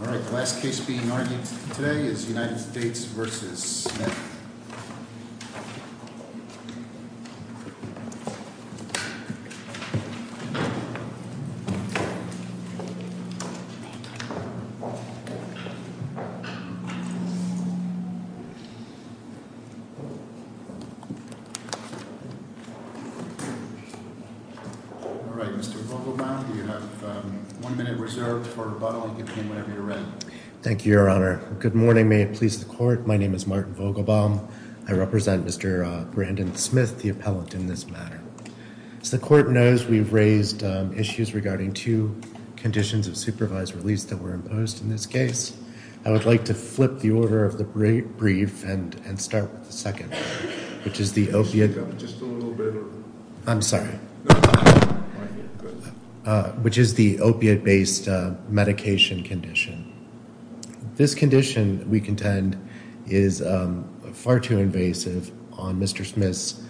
Alright, Mr. Vogelbaum, you have one minute reserved for rebuttal, and you can begin whenever you're ready. Mr. Vogelbaum Thank you, Your Honor. Good morning. May it please the Court. My name is Martin Vogelbaum. I represent Mr. Brandon Smith, the appellant, in this matter. As the Court knows, we've raised issues regarding two conditions of supervised release that were imposed in this case. I would like to flip the order of the brief and start with the second, which is the opiate- Mr. Smith Just a little bit, or- Mr. Vogelbaum I'm sorry. Mr. Vogelbaum Which is the opiate-based medication condition. This condition, we contend, is far too invasive on Mr. Smith's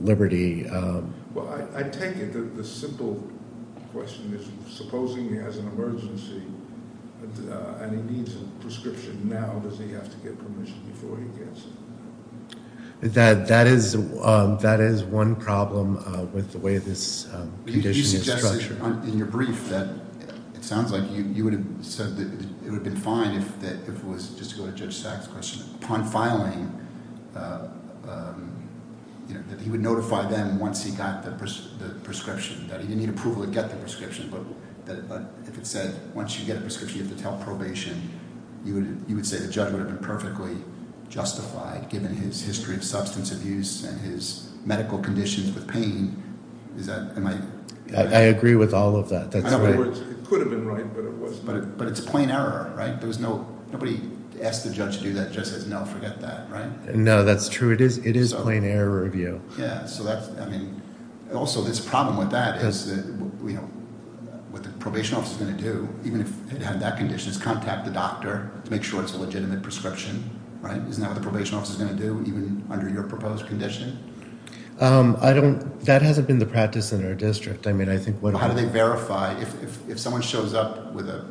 liberty- Mr. Smith Well, I take it that the simple question is, supposing he has an emergency, and he needs a prescription now, does he have to get permission before he gets it? Mr. Vogelbaum That is one problem with the way this condition is structured. Mr. Smith You suggested in your brief that it sounds like you would have said it would have been fine if it was, just to go to Judge Sack's question, upon filing, that he would notify them once he got the prescription, that he didn't need approval to get the prescription, but if it said, once you get a prescription, you have to tell probation, you would say the judge would have been perfectly justified, given his history of substance abuse and his medical conditions with pain, is that- Mr. Vogelbaum I agree with all of that, that's right. Mr. Smith It could have been right, but it was- Mr. Vogelbaum But it's plain error, right? Nobody asked the judge to do that, the judge says, no, forget that, right? Mr. Smith No, that's true, it is plain error review. Mr. Vogelbaum Yeah, so that's, I mean, also this problem with that is that, you know, what the probation office is going to do, even if it had that condition, is contact the doctor to make sure it's a legitimate prescription, right? Isn't that what the probation office is going to do, even under your proposed condition? Mr. Smith I don't, that hasn't been the practice in our district, I mean, I think- Mr. Vogelbaum How do they verify, if someone shows up with a prescription?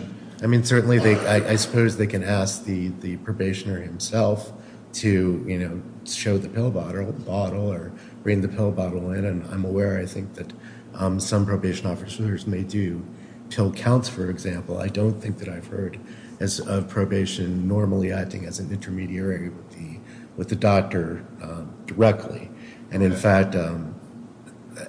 Mr. Smith I mean, certainly, I suppose they can ask the probationary himself to, you know, show the pill bottle or bring the pill bottle in, and I'm aware, I think, that some probation officers may do pill counts, for example. I don't think that I've heard of probation normally acting as an intermediary with the doctor directly, and in fact,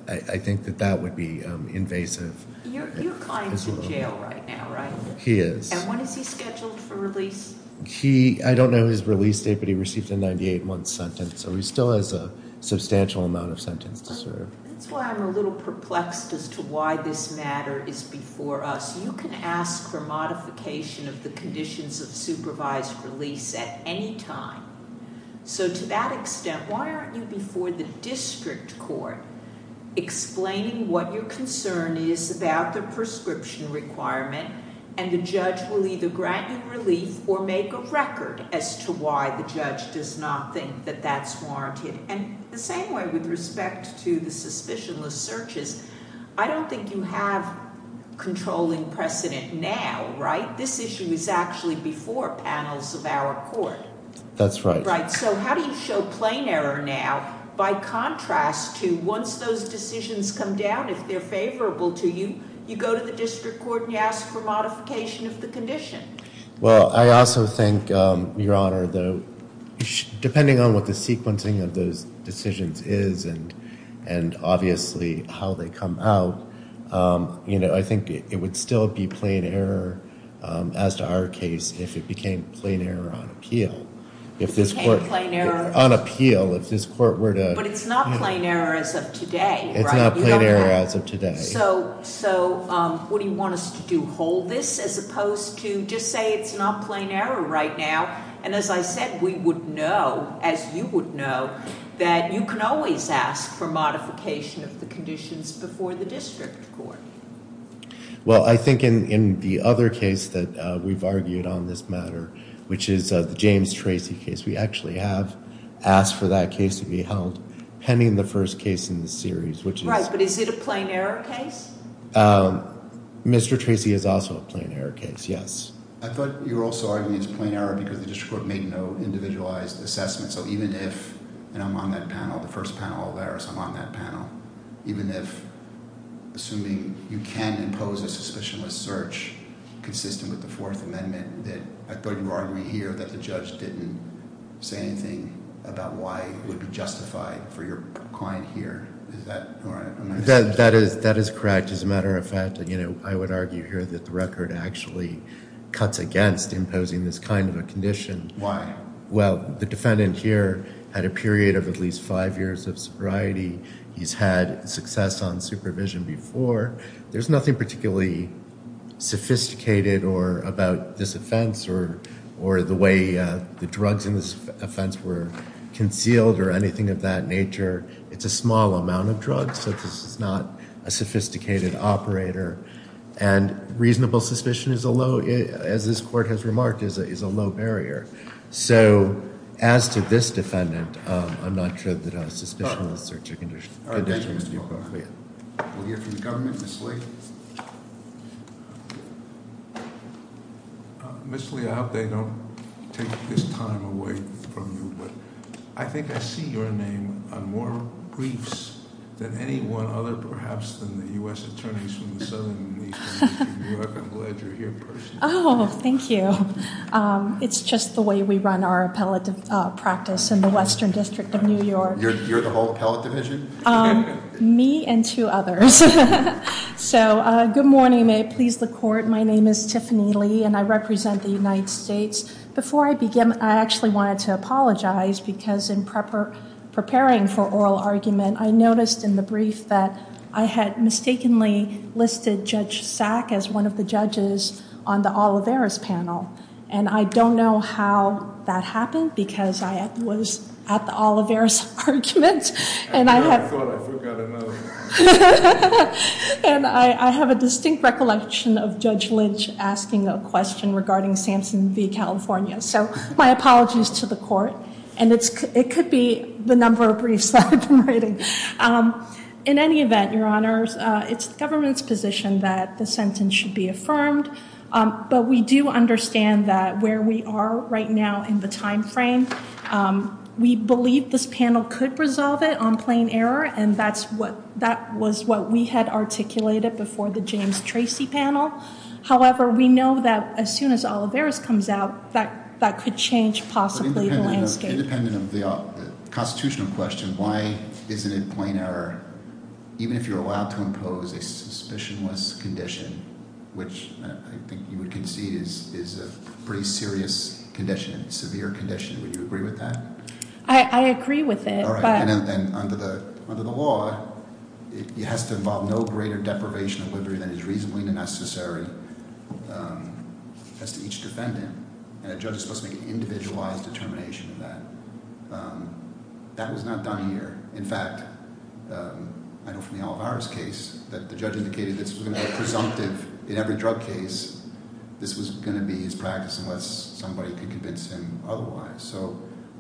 I think that that would be invasive. Ms. Laird You're client's in jail right now, right? Mr. Smith He is. Ms. Laird And when is he scheduled for release? Mr. Smith He, I don't know his release date, but he received a 98-month sentence, so he still has a substantial amount of sentence to serve. That's why I'm a little perplexed as to why this matter is before us. You can ask for modification of the conditions of supervised release at any time, so to that extent, why aren't you before the district court explaining what your concern is about the prescription requirement, and the judge will either grant you relief or make a record as to why the judge does not think that that's warranted. Ms. Laird And the same way with respect to the suspicionless searches, I don't think you have controlling precedent now, right? This issue is actually before panels of our court. Mr. Smith That's right. Ms. Laird Right, so how do you show plain error now by contrast to once those decisions come down, if they're favorable to you, you go to the district court and you ask for modification of the condition? Mr. Smith Well, I also think, Your Honor, depending on what the sequencing of those decisions is and obviously how they come out, I think it would still be plain error as to our case if it became plain error on appeal. Ms. Laird If it became plain error? Mr. Smith On appeal, if this court were to – Ms. Laird But it's not plain error as of today, right? Mr. Smith It's not plain error as of today. Ms. Laird So what do you want us to do, hold this as opposed to just say it's not plain error right now? And as I said, we would know, as you would know, that you can always ask for modification of the conditions before the district court. Mr. Smith Well, I think in the other case that we've argued on this matter, which is the James Tracy case, we actually have asked for that case to be held pending the first case in the series. Ms. Laird Right, but is it a plain error case? Mr. Smith Mr. Tracy is also a plain error case, yes. Mr. Smith I thought you were also arguing it's a plain error because the district court made no individualized assessment. So even if – and I'm on that panel, the first panel of that, so I'm on that panel. Even if, assuming you can impose a suspicionless search consistent with the Fourth Amendment, that I thought you were arguing here that the judge didn't say anything about why it would be justified for your client here. Is that right? Mr. Smith That is correct. I would argue here that the record actually cuts against imposing this kind of a condition. Mr. Smith Why? Mr. Smith Well, the defendant here had a period of at least five years of sobriety. He's had success on supervision before. There's nothing particularly sophisticated about this offense or the way the drugs in this offense were concealed or anything of that nature. It's a small amount of drugs, so this is not a sophisticated operator. And reasonable suspicion is a low – as this court has remarked, is a low barrier. So as to this defendant, I'm not sure that a suspicionless search condition would be appropriate. We'll hear from the government. Ms. Lee Ms. Lee, I hope they don't take this time away from you, but I think I see your name on more briefs than anyone other perhaps than the U.S. attorneys from the Southern and Eastern District of New York. I'm glad you're here personally. Ms. Lee Oh, thank you. It's just the way we run our appellate practice in the Western District of New York. Mr. Smith You're the whole appellate division? Ms. Lee Me and two others. So good morning. May it please the court. My name is Tiffany Lee, and I represent the United States. Before I begin, I actually wanted to apologize because in preparing for oral argument, I noticed in the brief that I had mistakenly listed Judge Sack as one of the judges on the Olivera's panel. And I don't know how that happened because I was at the Olivera's argument. And I thought I forgot another. And I have a distinct recollection of Judge Lynch asking a question regarding Samson v. California. So my apologies to the court. And it could be the number of briefs that I've been writing. In any event, Your Honors, it's the government's position that the sentence should be affirmed. But we do understand that where we are right now in the time frame, We believe this panel could resolve it on plain error. And that's what that was what we had articulated before the James Tracy panel. However, we know that as soon as all of theirs comes out, that that could change possibly the landscape. Independent of the constitutional question, why isn't it plain error? Even if you're allowed to impose a suspicionless condition, which I think you would concede is a pretty serious condition, severe condition, would you agree with that? I agree with it. And under the law, it has to involve no greater deprivation of liberty than is reasonably necessary as to each defendant. And a judge is supposed to make an individualized determination of that. That was not done here. In fact, I know from the Olivera's case that the judge indicated this was going to be presumptive in every drug case. This was going to be his practice unless somebody could convince him otherwise. So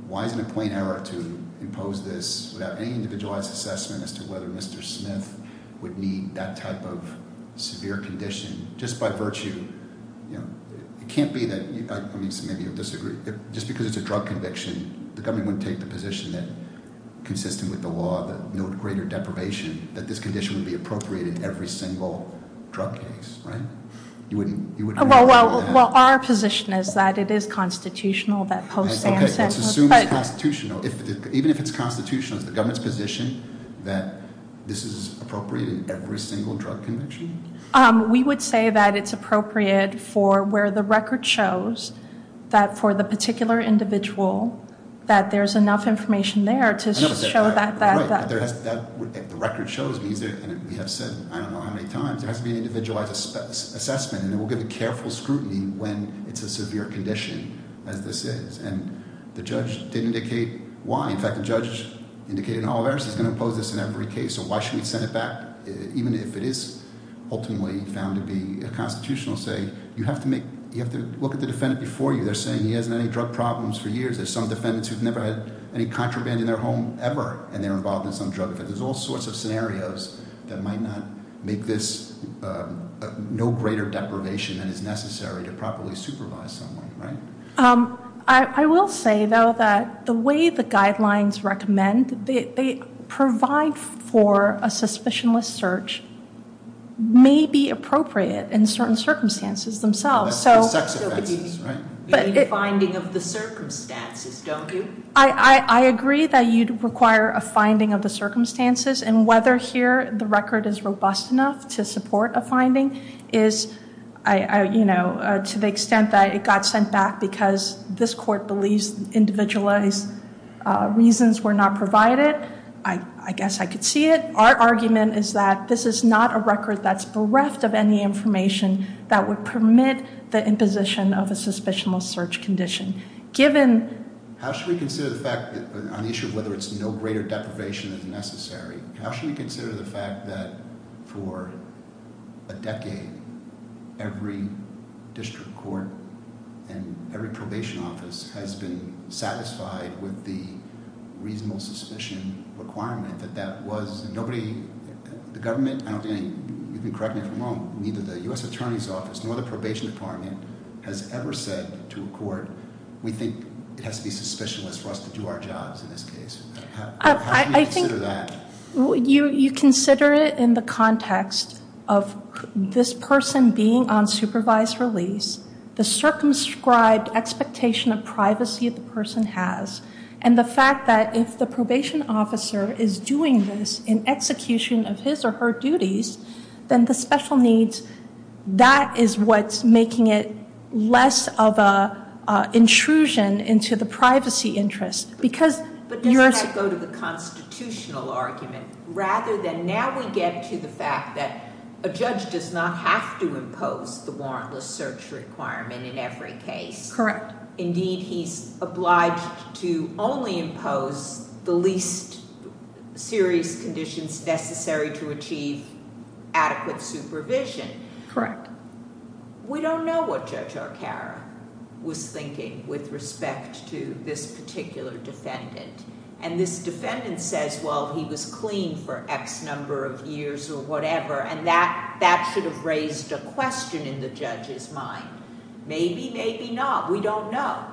why is it a plain error to impose this without any individualized assessment as to whether Mr. Smith would need that type of severe condition? Just by virtue, you know, it can't be that you disagree just because it's a drug conviction. The government would take the position that consistent with the law, that no greater deprivation, that this condition would be appropriate in every single drug case. Well, our position is that it is constitutional. Okay, let's assume it's constitutional. Even if it's constitutional, is the government's position that this is appropriate in every single drug conviction? We would say that it's appropriate for where the record shows that for the particular individual that there's enough information there to show that. The record shows, and we have said I don't know how many times, there has to be an individualized assessment. And we'll give a careful scrutiny when it's a severe condition as this is. And the judge did indicate why. In fact, the judge indicated in Olivera's he's going to impose this in every case. So why should we send it back even if it is ultimately found to be a constitutional saying? You have to look at the defendant before you. They're saying he hasn't had any drug problems for years. There's some defendants who've never had any contraband in their home ever, and they're involved in some drug offense. There's all sorts of scenarios that might not make this no greater deprivation than is necessary to properly supervise someone, right? I will say, though, that the way the guidelines recommend, they provide for a suspicionless search may be appropriate in certain circumstances themselves. You need a finding of the circumstances, don't you? I agree that you'd require a finding of the circumstances. And whether here the record is robust enough to support a finding is, to the extent that it got sent back because this court believes individualized reasons were not provided. I guess I could see it. I think our argument is that this is not a record that's bereft of any information that would permit the imposition of a suspicionless search condition. Given... How should we consider the fact that on the issue of whether it's no greater deprivation than is necessary, how should we consider the fact that for a decade every district court and every probation office has been satisfied with the reasonable suspicion requirement that that was? Nobody, the government, I don't think, you can correct me if I'm wrong, neither the U.S. Attorney's Office nor the Probation Department has ever said to a court, we think it has to be suspicionless for us to do our jobs in this case. How should we consider that? You consider it in the context of this person being on supervised release, the circumscribed expectation of privacy the person has, and the fact that if the probation officer is doing this in execution of his or her duties, then the special needs, that is what's making it less of an intrusion into the privacy interest. But doesn't that go to the constitutional argument? Rather than now we get to the fact that a judge does not have to impose the warrantless search requirement in every case. Correct. Indeed, he's obliged to only impose the least serious conditions necessary to achieve adequate supervision. Correct. We don't know what Judge Arcaro was thinking with respect to this particular defendant. This defendant says, well, he was clean for X number of years or whatever, and that should have raised a question in the judge's mind. Maybe, maybe not. We don't know.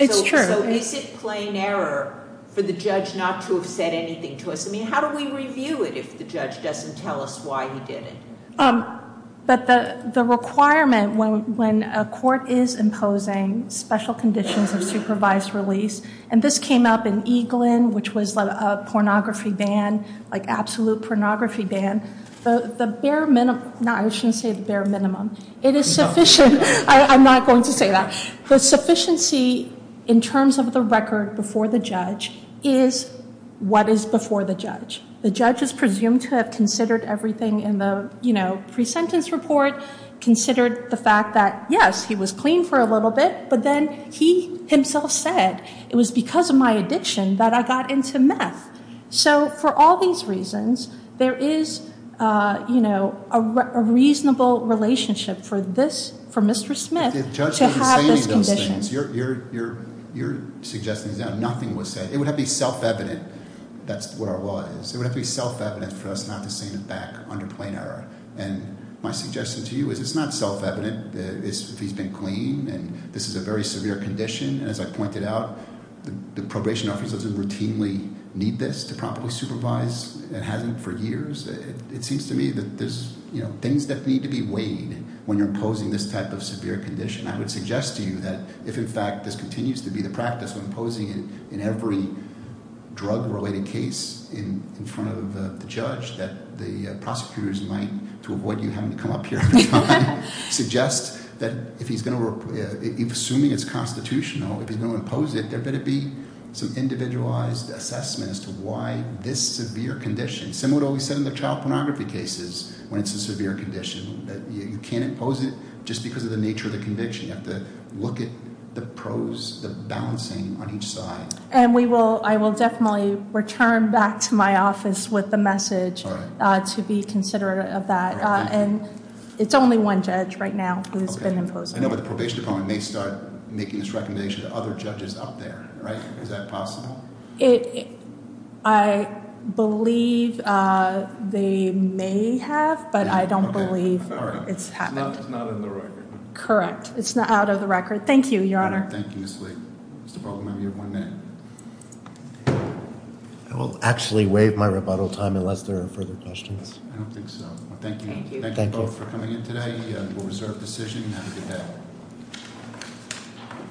It's true. Is it plain error for the judge not to have said anything to us? How do we review it if the judge doesn't tell us why he did it? But the requirement when a court is imposing special conditions of supervised release, and this came up in Eaglin, which was a pornography ban, like absolute pornography ban, the bare minimum, no, I shouldn't say the bare minimum. It is sufficient. I'm not going to say that. The sufficiency in terms of the record before the judge is what is before the judge. The judge is presumed to have considered everything in the, you know, pre-sentence report, considered the fact that, yes, he was clean for a little bit, but then he himself said it was because of my addiction that I got into meth. So for all these reasons, there is, you know, a reasonable relationship for this, for Mr. Smith to have this condition. But the judge didn't say any of those things. You're suggesting that nothing was said. It would have to be self-evident. That's where our law is. It would have to be self-evident for us not to send it back under plain error. And my suggestion to you is it's not self-evident if he's been clean and this is a very severe condition. As I pointed out, the probation office doesn't routinely need this to properly supervise. It hasn't for years. It seems to me that there's, you know, things that need to be weighed when you're imposing this type of severe condition. I would suggest to you that if, in fact, this continues to be the practice when imposing it in every drug-related case in front of the judge, that the prosecutors might, to avoid you having to come up here every time, suggest that if he's going to assume it's constitutional, if he's going to impose it, there better be some individualized assessment as to why this severe condition, similar to what we said in the child pornography cases when it's a severe condition, that you can't impose it just because of the nature of the conviction. You have to look at the pros, the balancing on each side. And we will, I will definitely return back to my office with the message to be considerate of that. And it's only one judge right now who's been imposed. I know, but the probation department may start making this recommendation to other judges out there, right? Is that possible? I believe they may have, but I don't believe it's happened. It's not in the record. Correct. It's out of the record. Thank you, Your Honor. Thank you, Ms. Lee. Mr. Baldwin, you have one minute. I will actually waive my rebuttal time unless there are further questions. I don't think so. Thank you both for coming in today. We'll reserve the session and have a good day.